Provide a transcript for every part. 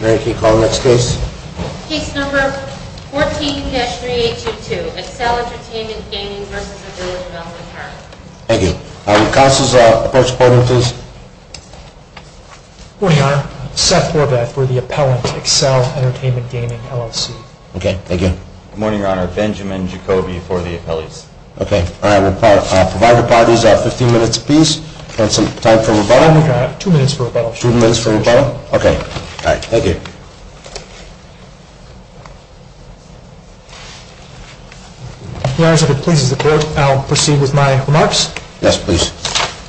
Mary, can you call the next case? Case number 14-3822, Excel Entertainment Gaming v. Village of Elmwood Park. Thank you. Counsel's approach appointment, please. Good morning, Your Honor. Seth Horvath for the appellant, Excel Entertainment Gaming LLC. Okay, thank you. Good morning, Your Honor. Benjamin Jacoby for the appellant. Okay. All right. Provider parties have 15 minutes apiece and some time for rebuttal. We've got two minutes for rebuttal. Two minutes for rebuttal? Okay. All right. Thank you. Your Honor, if it pleases the court, I'll proceed with my remarks. Yes, please.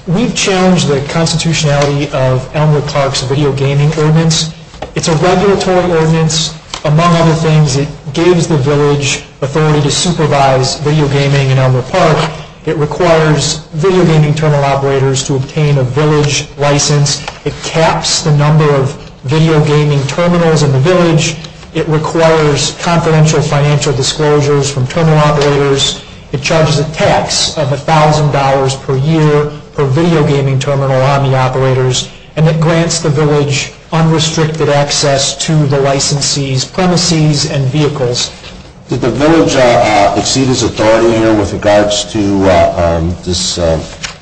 We've challenged the constitutionality of Elmwood Park's video gaming ordinance. It's a regulatory ordinance. Among other things, it gives the village authority to supervise video gaming in Elmwood Park. It requires video gaming terminal operators to obtain a village license. It caps the number of video gaming terminals in the village. It requires confidential financial disclosures from terminal operators. It charges a tax of $1,000 per year per video gaming terminal on the operators. And it grants the village unrestricted access to the licensee's premises and vehicles. Did the village exceed its authority here with regards to this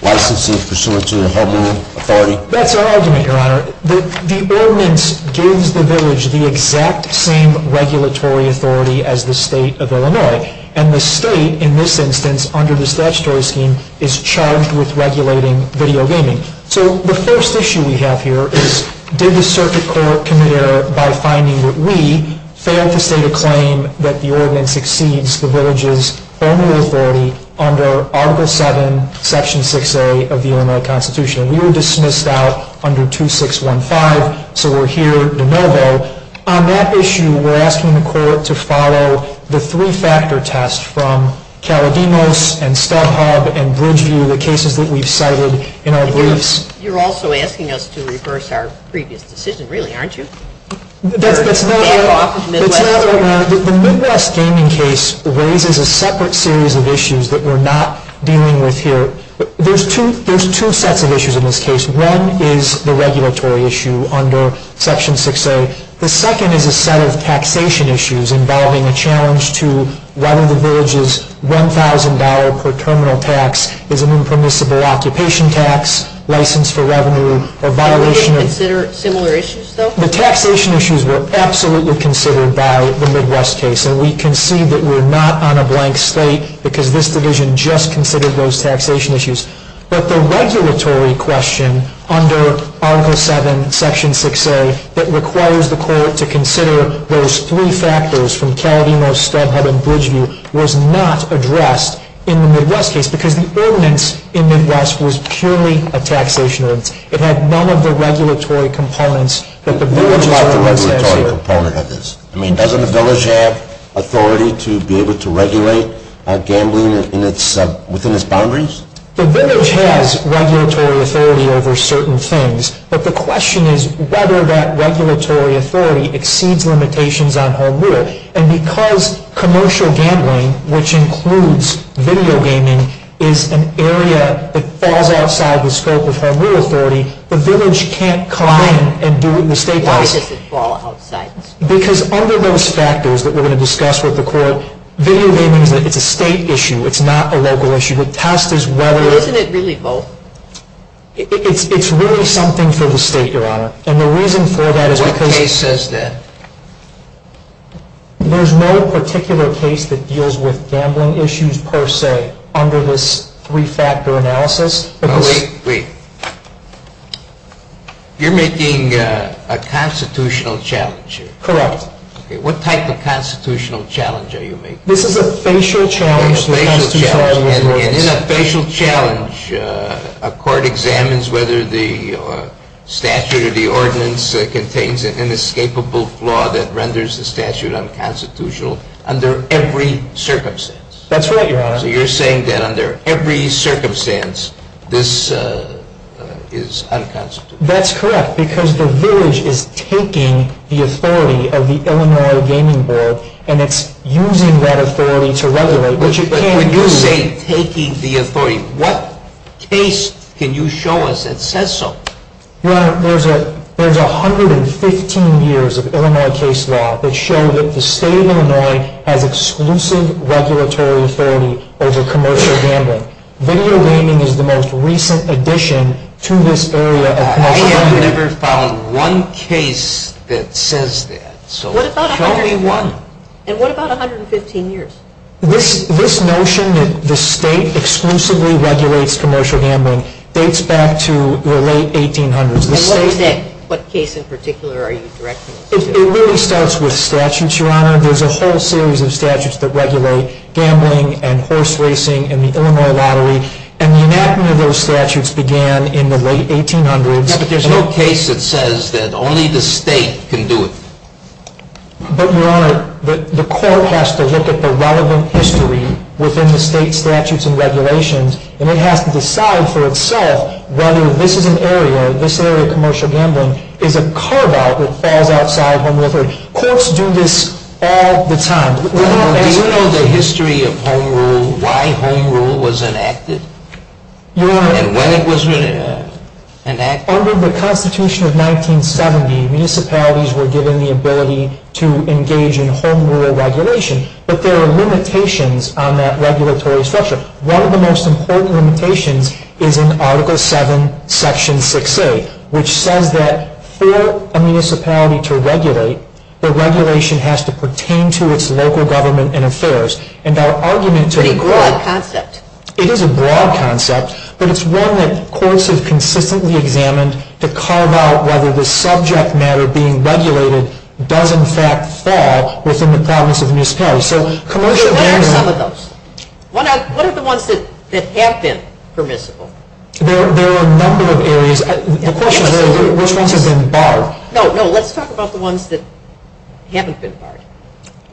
licensing pursuant to the Elmwood authority? That's our argument, Your Honor. The ordinance gives the village the exact same regulatory authority as the state of Illinois. And the state, in this instance, under the statutory scheme, is charged with regulating video gaming. So the first issue we have here is did the circuit court commit error by finding that we failed to state a claim that the ordinance exceeds the village's Elmwood authority under Article 7, Section 6A of the Illinois Constitution? We were dismissed out under 2615, so we're here de novo. On that issue, we're asking the court to follow the three-factor test from Caledemos and StubHub and Bridgeview, the cases that we've cited in our briefs. You're also asking us to reverse our previous decision, really, aren't you? That's not what we're— Back off, Midwest. That's not what we're—the Midwest gaming case raises a separate series of issues that we're not dealing with here. There's two sets of issues in this case. One is the regulatory issue under Section 6A. The second is a set of taxation issues involving a challenge to whether the village's $1,000 per terminal tax is an impermissible occupation tax, license for revenue, or violation of— Did we consider similar issues, though? The taxation issues were absolutely considered by the Midwest case, and we concede that we're not on a blank slate because this division just considered those taxation issues. But the regulatory question under Article 7, Section 6A that requires the court to consider those three factors from Caledemos, StubHub, and Bridgeview was not addressed in the Midwest case because the ordinance in Midwest was purely a taxation ordinance. It had none of the regulatory components that the village is— What about the regulatory component of this? I mean, doesn't the village have authority to be able to regulate gambling within its boundaries? The village has regulatory authority over certain things, but the question is whether that regulatory authority exceeds limitations on home rule. And because commercial gambling, which includes video gaming, is an area that falls outside the scope of home rule authority, the village can't climb and do what the state does. Why does it fall outside? Because under those factors that we're going to discuss with the court, video gaming is a state issue. It's not a local issue. The test is whether— But doesn't it really vote? It's really something for the state, Your Honor. And the reason for that is because— What case says that? There's no particular case that deals with gambling issues per se under this three-factor analysis. Well, wait, wait. You're making a constitutional challenge here. Correct. Okay, what type of constitutional challenge are you making? This is a facial challenge. A facial challenge. And in a facial challenge, a court examines whether the statute or the ordinance contains an inescapable flaw that renders the statute unconstitutional under every circumstance. That's right, Your Honor. So you're saying that under every circumstance, this is unconstitutional. That's correct, because the village is taking the authority of the Illinois Gaming Board, and it's using that authority to regulate, which it can't do. But when you say taking the authority, what case can you show us that says so? Your Honor, there's 115 years of Illinois case law that show that the state of Illinois has exclusive regulatory authority over commercial gambling. Video gaming is the most recent addition to this area of commercial gambling. I have never found one case that says that. So show me one. And what about 115 years? This notion that the state exclusively regulates commercial gambling dates back to the late 1800s. And what case in particular are you directing us to? It really starts with statutes, Your Honor. There's a whole series of statutes that regulate gambling and horse racing and the Illinois Lottery. And the enactment of those statutes began in the late 1800s. Yeah, but there's no case that says that only the state can do it. But, Your Honor, the court has to look at the relevant history within the state statutes and regulations, and it has to decide for itself whether this is an area, this area of commercial gambling, is a carve-out that falls outside when we're heard. Courts do this all the time. Do you know the history of home rule, why home rule was enacted, and when it was enacted? Under the Constitution of 1970, municipalities were given the ability to engage in home rule regulation. But there are limitations on that regulatory structure. One of the most important limitations is in Article 7, Section 6A, which says that for a municipality to regulate, the regulation has to pertain to its local government and affairs. It's a pretty broad concept. It is a broad concept, but it's one that courts have consistently examined to carve out whether the subject matter being regulated does, in fact, fall within the province of the municipality. What are some of those? What are the ones that have been permissible? There are a number of areas. The question is, which ones have been barred? No, no, let's talk about the ones that haven't been barred.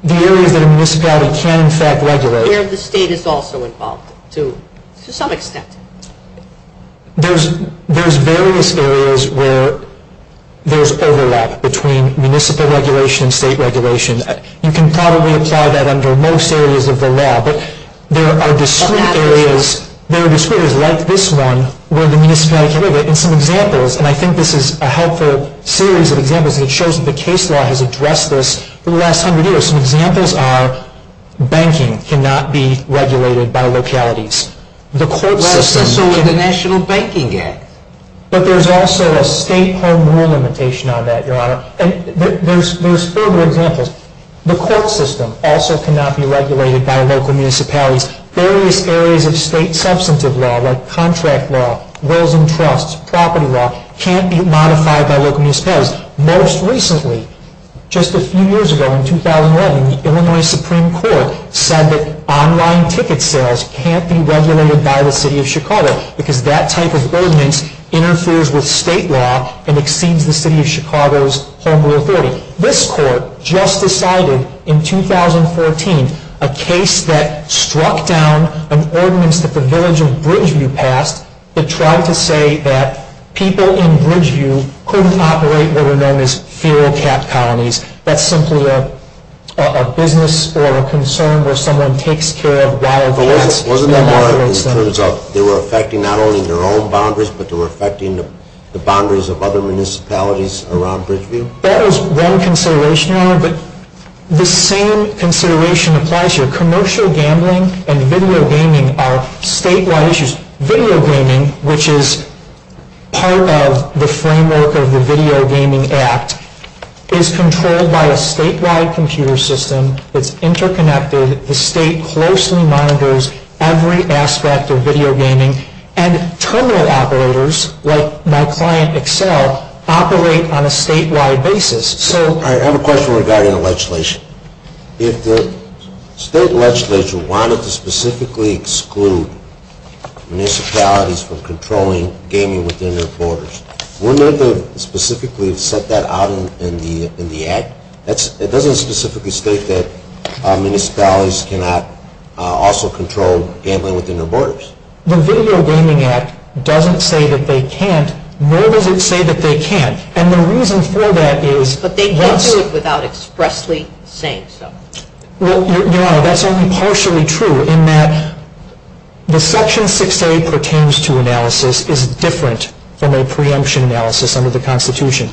The areas that a municipality can, in fact, regulate. Where the state is also involved, to some extent. There's various areas where there's overlap between municipal regulation and state regulation. You can probably apply that under most areas of the law, but there are discrete areas. There are discrete areas like this one where the municipality can regulate. And some examples, and I think this is a helpful series of examples, and it shows that the case law has addressed this for the last hundred years. Some examples are banking cannot be regulated by localities. The court system can't. Well, that's the same with the National Banking Act. But there's also a state home rule limitation on that, Your Honor. And there's further examples. The court system also cannot be regulated by local municipalities. Various areas of state substantive law, like contract law, wills and trusts, property law, can't be modified by local municipalities. Most recently, just a few years ago in 2011, the Illinois Supreme Court said that online ticket sales can't be regulated by the city of Chicago because that type of ordinance interferes with state law and exceeds the city of Chicago's home rule authority. This court just decided in 2014 a case that struck down an ordinance that the village of Bridgeview passed that tried to say that people in Bridgeview couldn't operate what are known as feral cat colonies. That's simply a business or a concern where someone takes care of wild cats. But wasn't that more in terms of they were affecting not only their own boundaries, but they were affecting the boundaries of other municipalities around Bridgeview? That was one consideration, Your Honor, but the same consideration applies here. Commercial gambling and video gaming are statewide issues. Video gaming, which is part of the framework of the Video Gaming Act, is controlled by a statewide computer system. It's interconnected. The state closely monitors every aspect of video gaming. Terminal operators, like my client Excel, operate on a statewide basis. I have a question regarding the legislation. If the state legislature wanted to specifically exclude municipalities from controlling gaming within their borders, wouldn't it have specifically set that out in the Act? It doesn't specifically state that municipalities cannot also control gambling within their borders. The Video Gaming Act doesn't say that they can't, nor does it say that they can't. And the reason for that is... But they can't do it without expressly saying so. Well, Your Honor, that's only partially true in that the Section 6A pertains to analysis is different from a preemption analysis under the Constitution.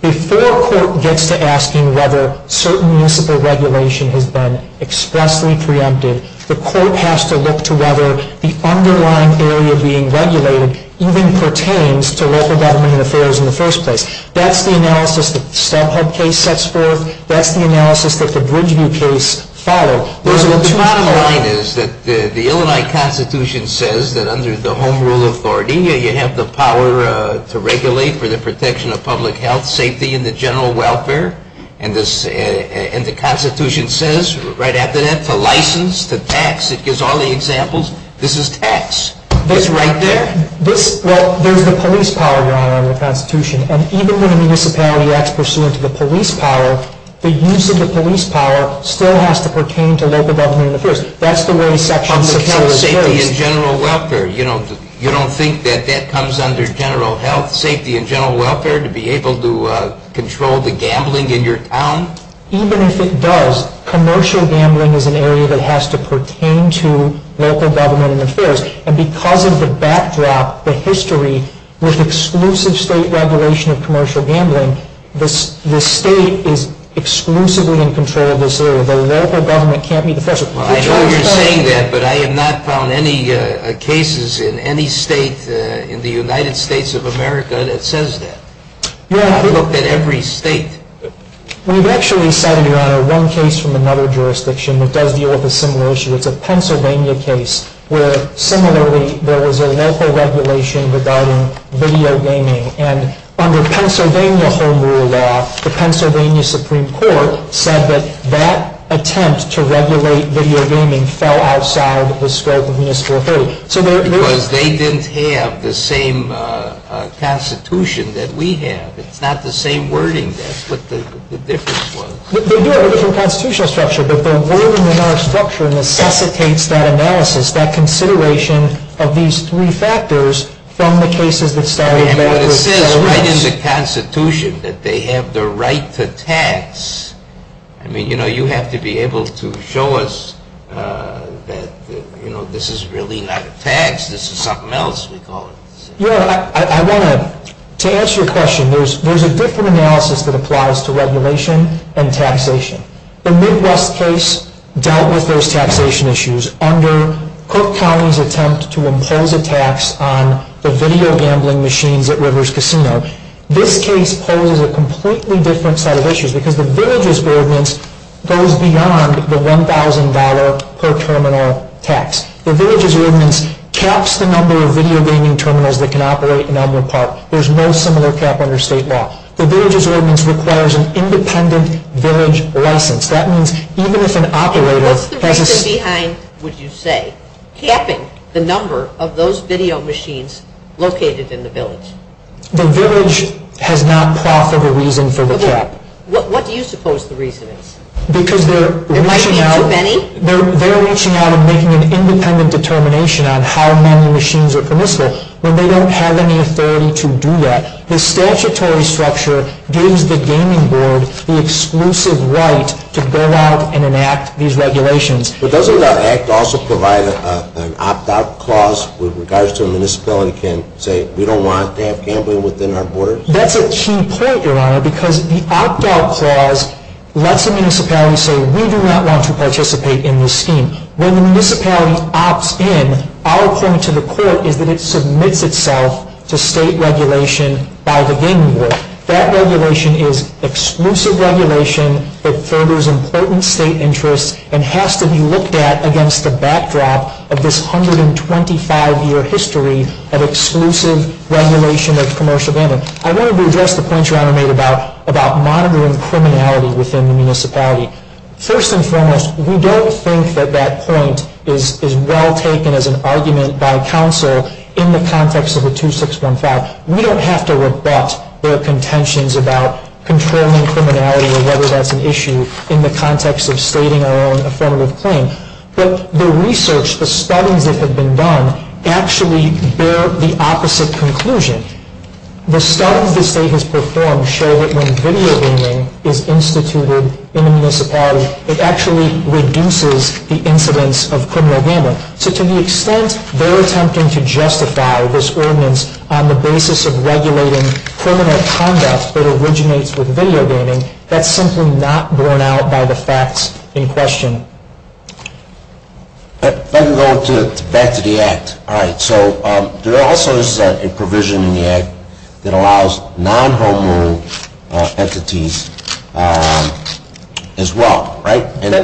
Before a court gets to asking whether certain municipal regulation has been expressly preempted, the court has to look to whether the underlying area being regulated even pertains to local government and affairs in the first place. That's the analysis that the StubHub case sets forth. That's the analysis that the Bridgeview case followed. The bottom line is that the Illini Constitution says that under the Home Rule authority, you have the power to regulate for the protection of public health, safety, and the general welfare. And the Constitution says, right after that, to license, to tax. It gives all the examples. This is tax. It's right there. Well, there's the police power, Your Honor, in the Constitution. And even when a municipality acts pursuant to the police power, the use of the police power still has to pertain to local government and affairs. That's the way Section 6A is based. Safety and general welfare. You don't think that that comes under general health? Safety and general welfare to be able to control the gambling in your town? Even if it does, commercial gambling is an area that has to pertain to local government and affairs. And because of the backdrop, the history, with exclusive state regulation of commercial gambling, the state is exclusively in control of this area. The local government can't be the first. Well, I know you're saying that, but I have not found any cases in any state in the United States of America that says that. I've looked at every state. We've actually cited, Your Honor, one case from another jurisdiction that does deal with a similar issue. It's a Pennsylvania case where, similarly, there was a local regulation regarding video gaming. And under Pennsylvania home rule law, the Pennsylvania Supreme Court said that that attempt to regulate video gaming fell outside the scope of Municipal Authority. Because they didn't have the same constitution that we have. It's not the same wording. That's what the difference was. They do have a different constitutional structure, but the wording in our structure necessitates that analysis, that consideration of these three factors from the cases that started in the United States of America. But it says right in the Constitution that they have the right to tax. I mean, you know, you have to be able to show us that, you know, this is really not a tax. This is something else, we call it. Your Honor, I want to, to answer your question, there's a different analysis that applies to regulation and taxation. The Midwest case dealt with those taxation issues under Cook County's attempt to impose a tax on the video gambling machines at Rivers Casino. This case poses a completely different set of issues because the Villages Ordinance goes beyond the $1,000 per terminal tax. The Villages Ordinance caps the number of video gaming terminals that can operate in Elmwood Park. There's no similar cap under state law. The Villages Ordinance requires an independent village license. That means even if an operator has a... And what's the reason behind, would you say, capping the number of those video machines located in the village? The village has not proffered a reason for the cap. What do you suppose the reason is? Because they're reaching out... There might be too many? They're reaching out and making an independent determination on how many machines are permissible when they don't have any authority to do that. The statutory structure gives the gaming board the exclusive right to go out and enact these regulations. But doesn't that act also provide an opt-out clause with regards to a municipality can say, we don't want to have gambling within our borders? That's a key point, Your Honor, because the opt-out clause lets a municipality say, we do not want to participate in this scheme. When the municipality opts in, our point to the court is that it submits itself to state regulation by the gaming board. That regulation is exclusive regulation that furthers important state interests and has to be looked at against the backdrop of this 125-year history of exclusive regulation of commercial gambling. I wanted to address the point Your Honor made about monitoring criminality within the municipality. First and foremost, we don't think that that point is well taken as an argument by counsel in the context of the 2615. We don't have to rebut their contentions about controlling criminality or whether that's an issue in the context of stating our own affirmative claim. But the research, the studies that have been done, actually bear the opposite conclusion. The studies the state has performed show that when video gaming is instituted in a municipality, it actually reduces the incidence of criminal gambling. So to the extent they're attempting to justify this ordinance on the basis of regulating criminal conduct that originates with video gaming, that's simply not borne out by the facts in question. Let me go back to the Act. So there also is a provision in the Act that allows non-home rule entities as well, right? And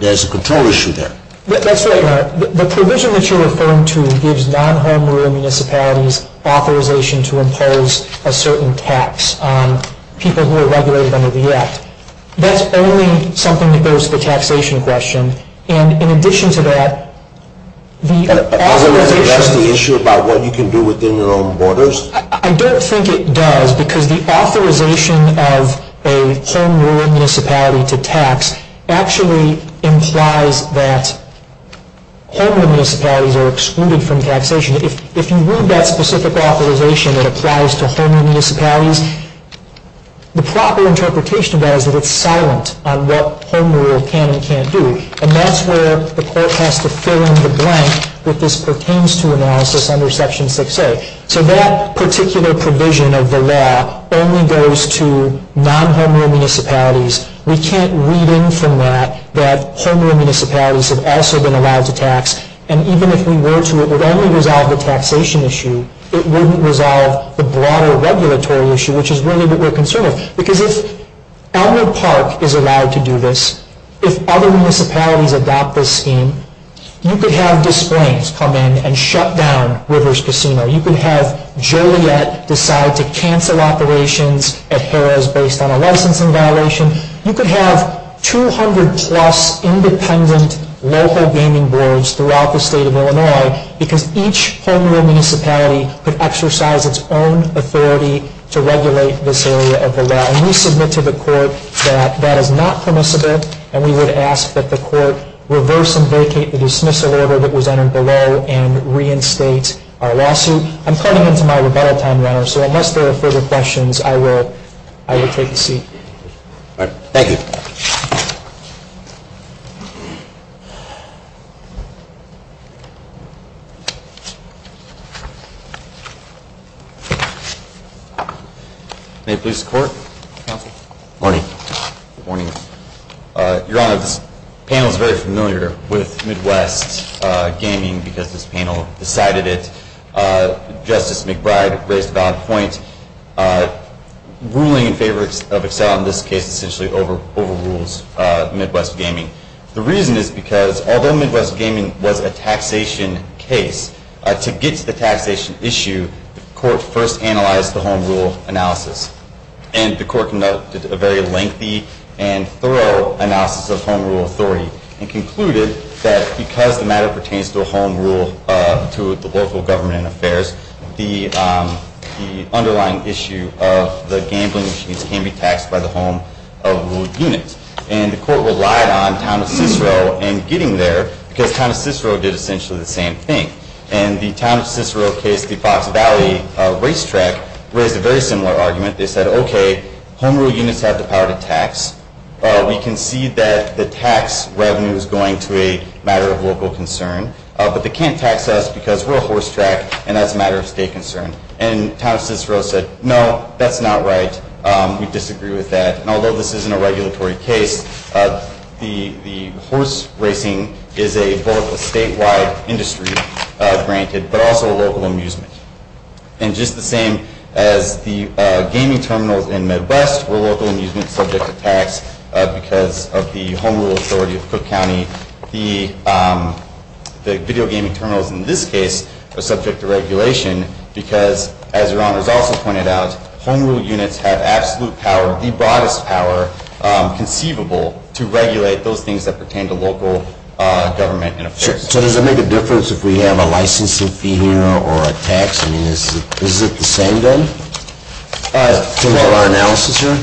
there's a control issue there. That's right, Your Honor. The provision that you're referring to gives non-home rule municipalities authorization to impose a certain tax on people who are regulated under the Act. That's only something that goes to the taxation question. And in addition to that, the authorization… That's the issue about what you can do within your own borders? I don't think it does because the authorization of a home rule municipality to tax actually implies that home rule municipalities are excluded from taxation. If you read that specific authorization that applies to home rule municipalities, the proper interpretation of that is that it's silent on what home rule can and can't do. And that's where the court has to fill in the blank that this pertains to analysis under Section 6A. So that particular provision of the law only goes to non-home rule municipalities. We can't read in from that that home rule municipalities have also been allowed to tax. And even if we were to, it would only resolve the taxation issue. It wouldn't resolve the broader regulatory issue, which is really what we're concerned with. Because if Elmer Park is allowed to do this, if other municipalities adopt this scheme, you could have displays come in and shut down Rivers Casino. You could have Joliet decide to cancel operations at Harrah's based on a licensing violation. You could have 200 plus independent local gaming boards throughout the state of Illinois because each home rule municipality could exercise its own authority to regulate this area of the law. And we submit to the court that that is not permissible. And we would ask that the court reverse and vacate the dismissal order that was entered below and reinstate our lawsuit. I'm cutting into my rebuttal time, Your Honor, so unless there are further questions, I will take a seat. Thank you. May it please the court. Morning. Good morning. Your Honor, this panel is very familiar with Midwest Gaming because this panel decided it. Justice McBride raised a valid point. Ruling in favor of Excel in this case essentially overrules Midwest Gaming. The reason is because although Midwest Gaming was a taxation case, to get to the taxation issue, the court first analyzed the home rule analysis. And the court conducted a very lengthy and thorough analysis of home rule authority and concluded that because the matter pertains to a home rule to the local government and affairs, the underlying issue of the gambling machines can be taxed by the home rule unit. And the court relied on town of Cicero in getting there because town of Cicero did essentially the same thing. And the town of Cicero case, the Fox Valley racetrack, raised a very similar argument. They said, okay, home rule units have the power to tax. We can see that the tax revenue is going to a matter of local concern, but they can't tax us because we're a horse track and that's a matter of state concern. And town of Cicero said, no, that's not right. We disagree with that. And although this isn't a regulatory case, the horse racing is both a statewide industry granted, but also a local amusement. And just the same as the gaming terminals in Midwest were local amusement subject to tax because of the home rule authority of Cook County. The video gaming terminals in this case are subject to regulation because, as your honors also pointed out, home rule units have absolute power, the broadest power conceivable to regulate those things that pertain to local government and affairs. So does it make a difference if we have a licensing fee here or a tax? I mean, is it the same thing? In terms of our analysis here?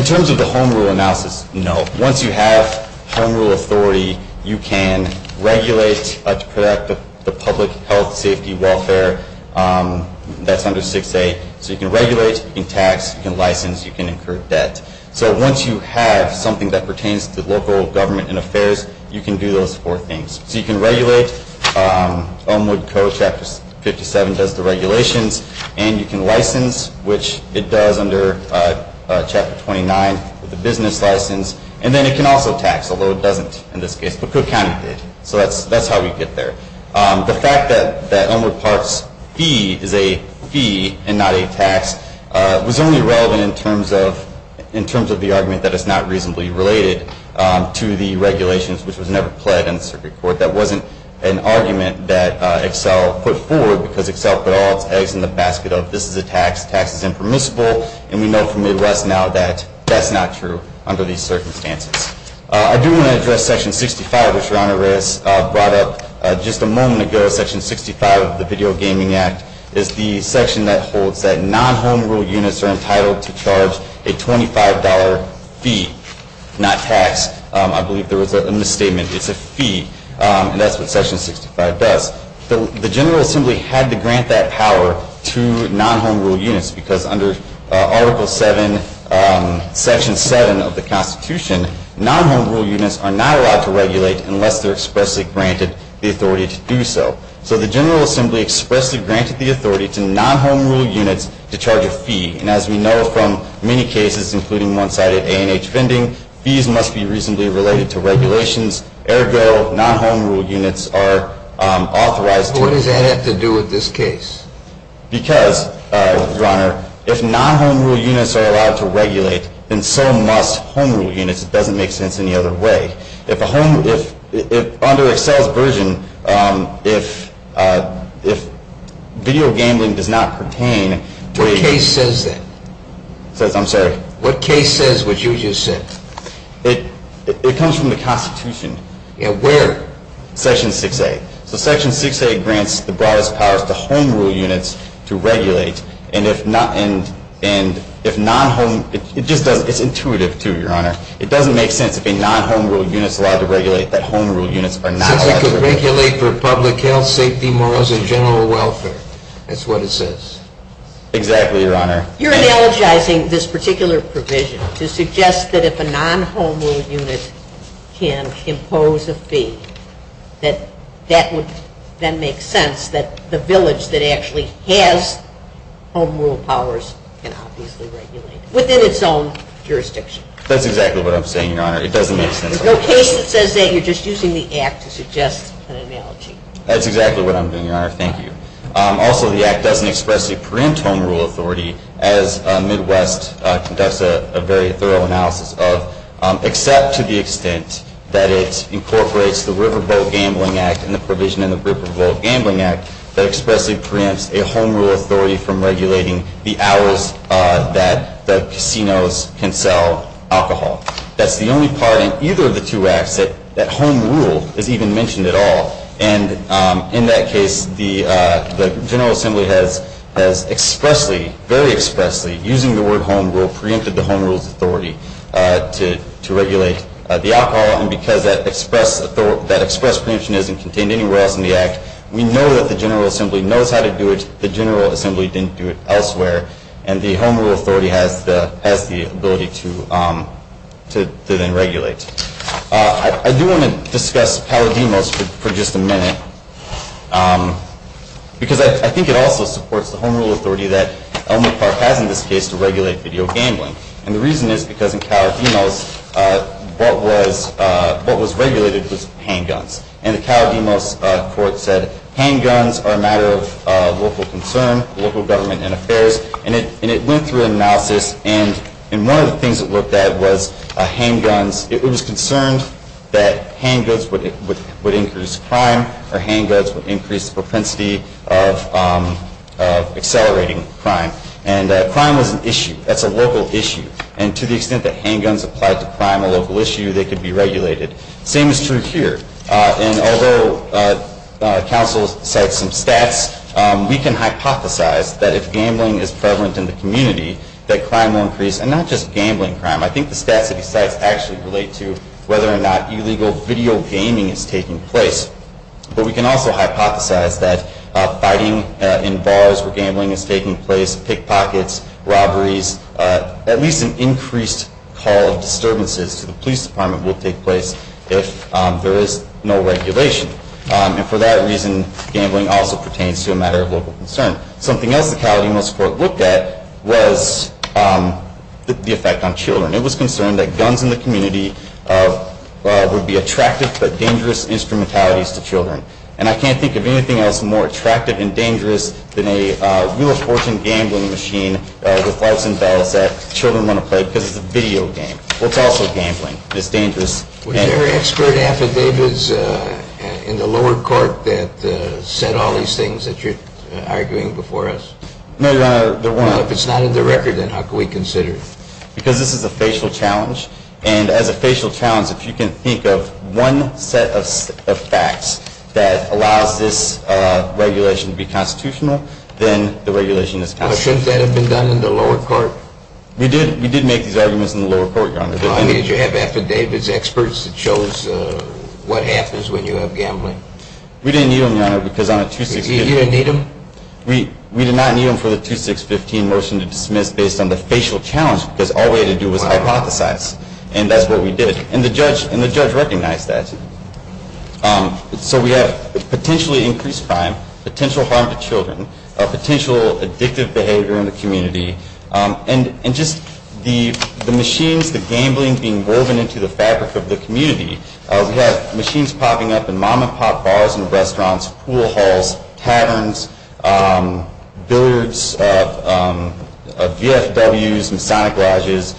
In terms of the home rule analysis, no. Once you have home rule authority, you can regulate the public health, safety, welfare. That's under 6A. So you can regulate, you can tax, you can license, you can incur debt. So once you have something that pertains to local government and affairs, you can do those four things. So you can regulate. Elmwood Co. Chapter 57 does the regulations. And you can license, which it does under Chapter 29, the business license. And then it can also tax, although it doesn't in this case, but Cook County did. So that's how we get there. The fact that Elmwood Park's fee is a fee and not a tax was only relevant in terms of the argument that it's not reasonably related to the regulations, which was never pled in the circuit court. That wasn't an argument that Excel put forward, because Excel put all its eggs in the basket of this is a tax, tax is impermissible, and we know from the arrest now that that's not true under these circumstances. I do want to address Section 65, which Your Honor has brought up just a moment ago. Section 65 of the Video Gaming Act is the section that holds that non-home rule units are entitled to charge a $25 fee, not tax. I believe there was a misstatement. It's a fee, and that's what Section 65 does. The General Assembly had to grant that power to non-home rule units, because under Article 7, Section 7 of the Constitution, non-home rule units are not allowed to regulate unless they're expressly granted the authority to do so. So the General Assembly expressly granted the authority to non-home rule units to charge a fee. And as we know from many cases, including one cited A&H vending, fees must be reasonably related to regulations. Ergo, non-home rule units are authorized to do so. But what does that have to do with this case? Because, Your Honor, if non-home rule units are allowed to regulate, then so must home rule units. It doesn't make sense any other way. If under Excel's version, if video gambling does not pertain to a case that is a non-home rule unit, what case is that? I'm sorry. What case says what you just said? It comes from the Constitution. Where? Section 6A. So Section 6A grants the broadest powers to home rule units to regulate. And if non-home, it's intuitive, too, Your Honor. It doesn't make sense if a non-home rule unit is allowed to regulate that home rule units are not allowed to regulate. Since it could regulate for public health, safety, morals, and general welfare. That's what it says. Exactly, Your Honor. You're analogizing this particular provision to suggest that if a non-home rule unit can impose a fee, that that would then make sense that the village that actually has home rule powers can obviously regulate it. Within its own jurisdiction. That's exactly what I'm saying, Your Honor. It doesn't make sense. There's no case that says that. You're just using the Act to suggest an analogy. That's exactly what I'm doing, Your Honor. Thank you. Also, the Act doesn't expressly preempt home rule authority, as Midwest conducts a very thorough analysis of, except to the extent that it incorporates the Riverboat Gambling Act and the provision in the Riverboat Gambling Act that expressly preempts a home rule authority from regulating the hours that the casinos can sell alcohol. That's the only part in either of the two Acts that home rule is even mentioned at all. In that case, the General Assembly has expressly, very expressly, using the word home rule, preempted the home rule's authority to regulate the alcohol. Because that express preemption isn't contained anywhere else in the Act, we know that the General Assembly knows how to do it. The General Assembly didn't do it elsewhere. The home rule authority has the ability to then regulate. I do want to discuss Calodimos for just a minute, because I think it also supports the home rule authority that Elmwood Park has in this case to regulate video gambling. And the reason is because in Calodimos, what was regulated was handguns. And the Calodimos court said handguns are a matter of local concern, local government and affairs. And it went through analysis. And one of the things it looked at was handguns. It was concerned that handguns would increase crime, or handguns would increase the propensity of accelerating crime. And crime was an issue. That's a local issue. And to the extent that handguns applied to crime, a local issue, they could be regulated. The same is true here. And although counsel cited some stats, we can hypothesize that if gambling is prevalent in the community, that crime will increase, and not just gambling crime. I think the stats that he cites actually relate to whether or not illegal video gaming is taking place. But we can also hypothesize that fighting in bars where gambling is taking place, pickpockets, robberies, at least an increased call of disturbances to the police department will take place if there is no regulation. And for that reason, gambling also pertains to a matter of local concern. Something else the Calodimos court looked at was the effect on children. It was concerned that guns in the community would be attractive but dangerous instrumentalities to children. And I can't think of anything else more attractive and dangerous than a wheel of fortune gambling machine with lights and bells that children want to play because it's a video game. Well, it's also gambling. It's dangerous. Were there expert affidavits in the lower court that said all these things that you're arguing before us? No, there weren't. Well, if it's not in the record, then how can we consider it? Because this is a facial challenge. And as a facial challenge, if you can think of one set of facts that allows this regulation to be constitutional, then the regulation is constitutional. Shouldn't that have been done in the lower court? We did make these arguments in the lower court, Your Honor. How many did you have affidavits, experts, that shows what happens when you have gambling? We didn't need them, Your Honor, because on a 2-6-15. You didn't need them? We did not need them for the 2-6-15 motion to dismiss based on the facial challenge because all we had to do was hypothesize. And that's what we did. And the judge recognized that. So we have potentially increased crime, potential harm to children, potential addictive behavior in the community, and just the machines, the gambling being woven into the fabric of the community. We have machines popping up in mom-and-pop bars and restaurants, pool halls, taverns, billiards of VFWs, Masonic Lodges.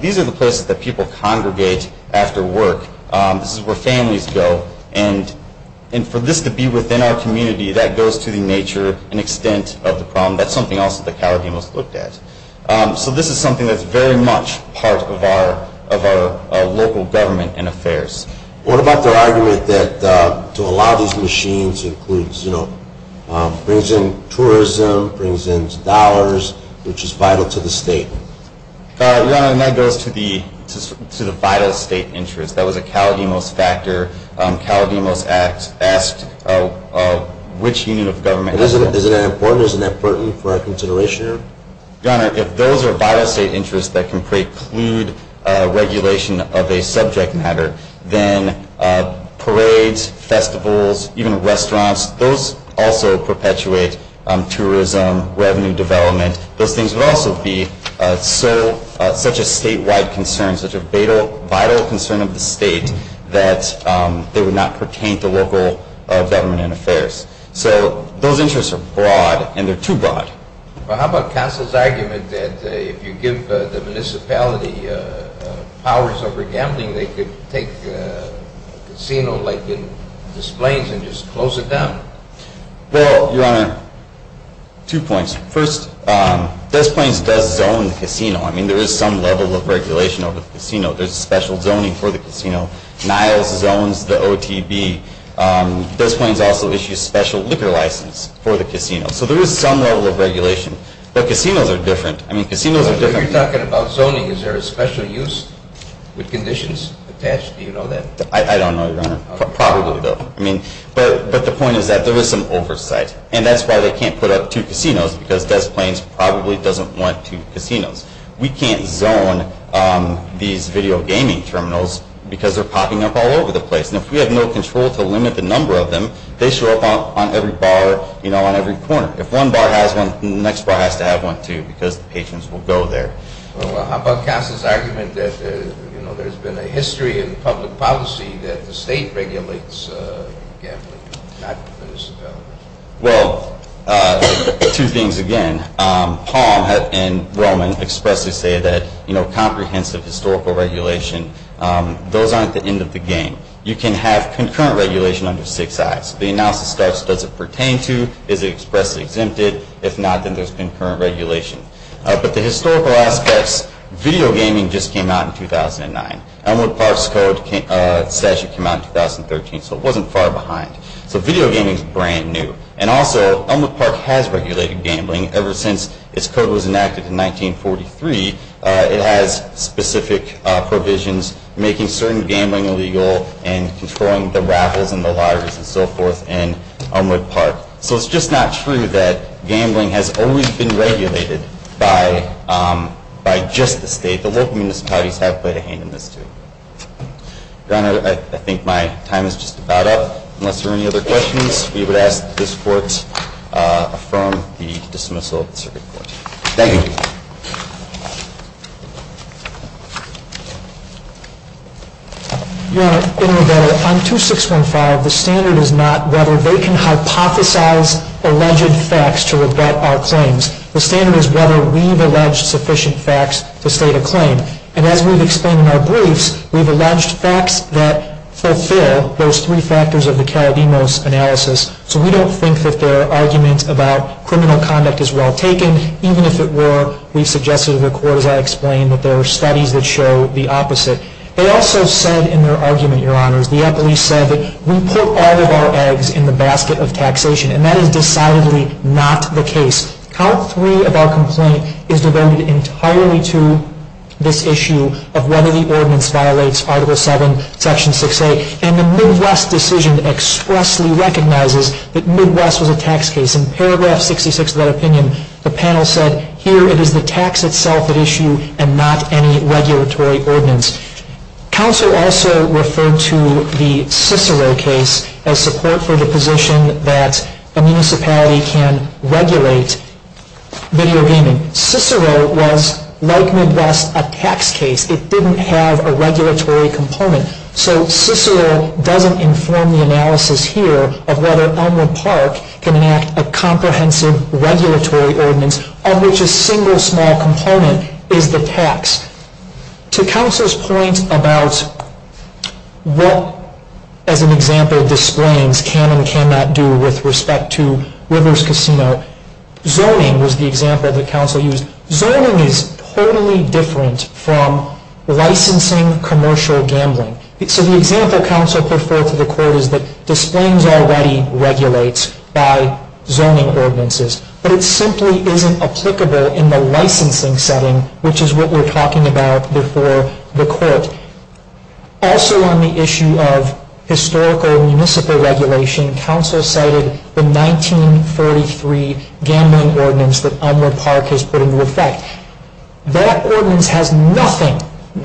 These are the places that people congregate after work. This is where families go. And for this to be within our community, that goes to the nature and extent of the problem. That's something else that the Caribbean was looked at. So this is something that's very much part of our local government and affairs. What about the argument that to allow these machines includes, you know, brings in tourism, brings in dollars, which is vital to the state? Your Honor, that goes to the vital state interest. That was a Caledemos factor. Caledemos asked which unit of government. Isn't that important for our consideration? Your Honor, if those are vital state interests that can preclude regulation of a subject matter, then parades, festivals, even restaurants, those also perpetuate tourism, revenue development. Those things would also be such a statewide concern, such a vital concern of the state, that they would not pertain to local government and affairs. So those interests are broad, and they're too broad. Well, how about counsel's argument that if you give the municipality powers over gambling, they could take a casino like Des Plaines and just close it down? Well, Your Honor, two points. First, Des Plaines does zone the casino. I mean, there is some level of regulation over the casino. There's special zoning for the casino. Niles zones the OTB. Des Plaines also issues special liquor license for the casino. So there is some level of regulation. But casinos are different. I mean, casinos are different. So you're talking about zoning. Is there a special use with conditions attached? Do you know that? I don't know, Your Honor. Probably don't. I mean, but the point is that there is some oversight, and that's why they can't put up two casinos because Des Plaines probably doesn't want two casinos. We can't zone these video gaming terminals because they're popping up all over the place. And if we have no control to limit the number of them, they show up on every bar, you know, on every corner. If one bar has one, the next bar has to have one, too, because the patrons will go there. How about Counselor's argument that, you know, there's been a history in public policy that the state regulates gambling, not the municipality? Well, two things again. Palm and Roman expressly say that, you know, comprehensive historical regulation, those aren't the end of the game. You can have concurrent regulation under six I's. The analysis starts, does it pertain to, is it expressly exempted? If not, then there's concurrent regulation. But the historical aspects, video gaming just came out in 2009. Elmwood Park's code statute came out in 2013, so it wasn't far behind. So video gaming is brand new. And also, Elmwood Park has regulated gambling ever since its code was enacted in 1943. It has specific provisions making certain gambling illegal and controlling the raffles and the lotteries and so forth in Elmwood Park. So it's just not true that gambling has always been regulated by just the state. The local municipalities have played a hand in this, too. Your Honor, I think my time is just about up. Unless there are any other questions, we would ask that this Court affirm the dismissal of the circuit court. Thank you. Your Honor, in rebuttal, on 2615, the standard is not whether they can hypothesize alleged facts to rebut our claims. The standard is whether we've alleged sufficient facts to state a claim. And as we've explained in our briefs, we've alleged facts that fulfill those three factors of the Karadimos analysis. So we don't think that their argument about criminal conduct is well taken. Even if it were, we've suggested to the Court, as I explained, that there are studies that show the opposite. They also said in their argument, Your Honors, the police said that we put all of our eggs in the basket of taxation. And that is decidedly not the case. Count three of our complaint is devoted entirely to this issue of whether the ordinance violates Article 7, Section 6A. And the Midwest decision expressly recognizes that Midwest was a tax case. In paragraph 66 of that opinion, the panel said, here it is the tax itself at issue and not any regulatory ordinance. Counsel also referred to the Cicero case as support for the position that a municipality can regulate video gaming. Cicero was, like Midwest, a tax case. It didn't have a regulatory component. So Cicero doesn't inform the analysis here of whether Elmwood Park can enact a comprehensive regulatory ordinance on which a single small component is the tax. To Counsel's point about what, as an example of displayings, can and cannot do with respect to Rivers Casino, zoning was the example that Counsel used. Zoning is totally different from licensing commercial gambling. So the example Counsel put forth to the court is that displayings already regulate by zoning ordinances. But it simply isn't applicable in the licensing setting, which is what we're talking about before the court. Also on the issue of historical municipal regulation, Counsel cited the 1943 gambling ordinance that Elmwood Park has put into effect. That ordinance has nothing,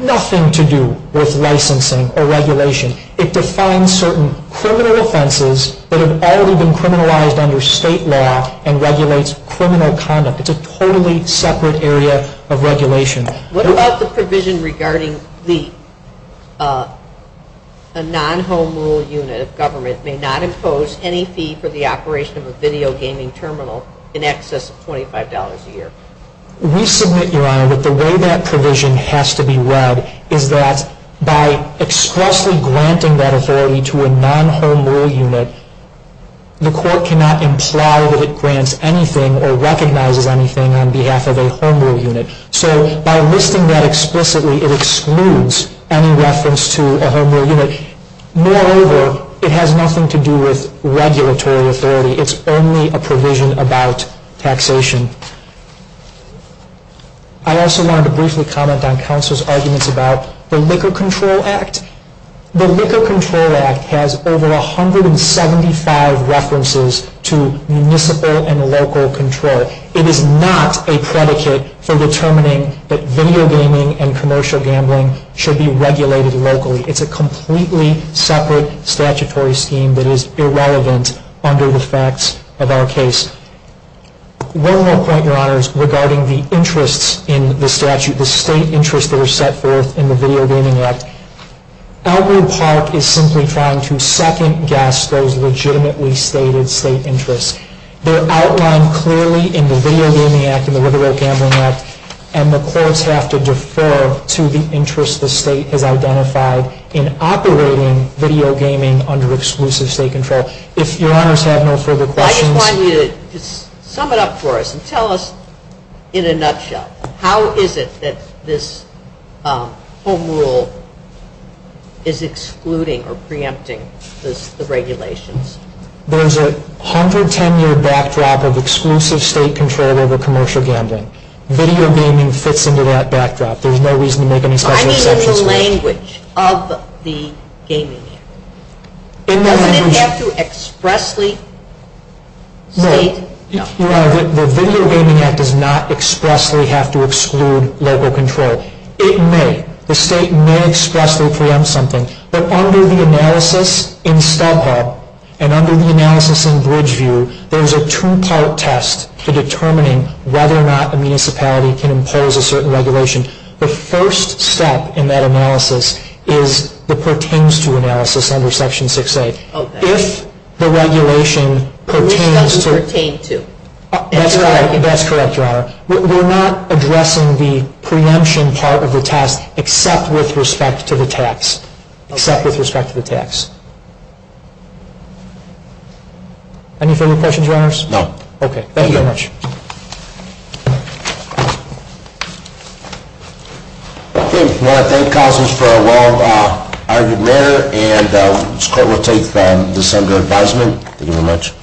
nothing to do with licensing or regulation. It defines certain criminal offenses that have already been criminalized under state law and regulates criminal conduct. It's a totally separate area of regulation. What about the provision regarding the non-home rule unit of government that may not impose any fee for the operation of a video gaming terminal in excess of $25 a year? We submit, Your Honor, that the way that provision has to be read is that by expressly granting that authority to a non-home rule unit, the court cannot imply that it grants anything or recognizes anything on behalf of a home rule unit. So by listing that explicitly, it excludes any reference to a home rule unit. Moreover, it has nothing to do with regulatory authority. It's only a provision about taxation. I also wanted to briefly comment on Counsel's arguments about the Liquor Control Act. The Liquor Control Act has over 175 references to municipal and local control. It is not a predicate for determining that video gaming and commercial gambling should be regulated locally. It's a completely separate statutory scheme that is irrelevant under the facts of our case. One more point, Your Honors, regarding the interests in the statute, the state interests that are set forth in the Video Gaming Act. Elgin Park is simply trying to second-guess those legitimately stated state interests. They're outlined clearly in the Video Gaming Act and the River Road Gambling Act, and the courts have to defer to the interests the state has identified in operating video gaming under exclusive state control. If Your Honors have no further questions. I just want you to sum it up for us and tell us in a nutshell, how is it that this home rule is excluding or preempting the regulations? There's a 110-year backdrop of exclusive state control over commercial gambling. Video gaming fits into that backdrop. There's no reason to make any special exceptions. I mean in the language of the Gaming Act. In the language. Doesn't it have to expressly state? No. Your Honor, the Video Gaming Act does not expressly have to exclude local control. It may. The state may expressly preempt something, but under the analysis in StubHub and under the analysis in Bridgeview, there's a two-part test for determining whether or not a municipality can impose a certain regulation. The first step in that analysis is the pertains to analysis under Section 6A. Okay. If the regulation pertains to. Which does it pertain to? That's correct. That's correct, Your Honor. We're not addressing the preemption part of the test except with respect to the tax. Okay. Except with respect to the tax. Any further questions, Your Honors? No. Okay. Thank you very much. Okay. I want to thank counsels for a well-argued matter, and this court will take this under advisement. Thank you very much.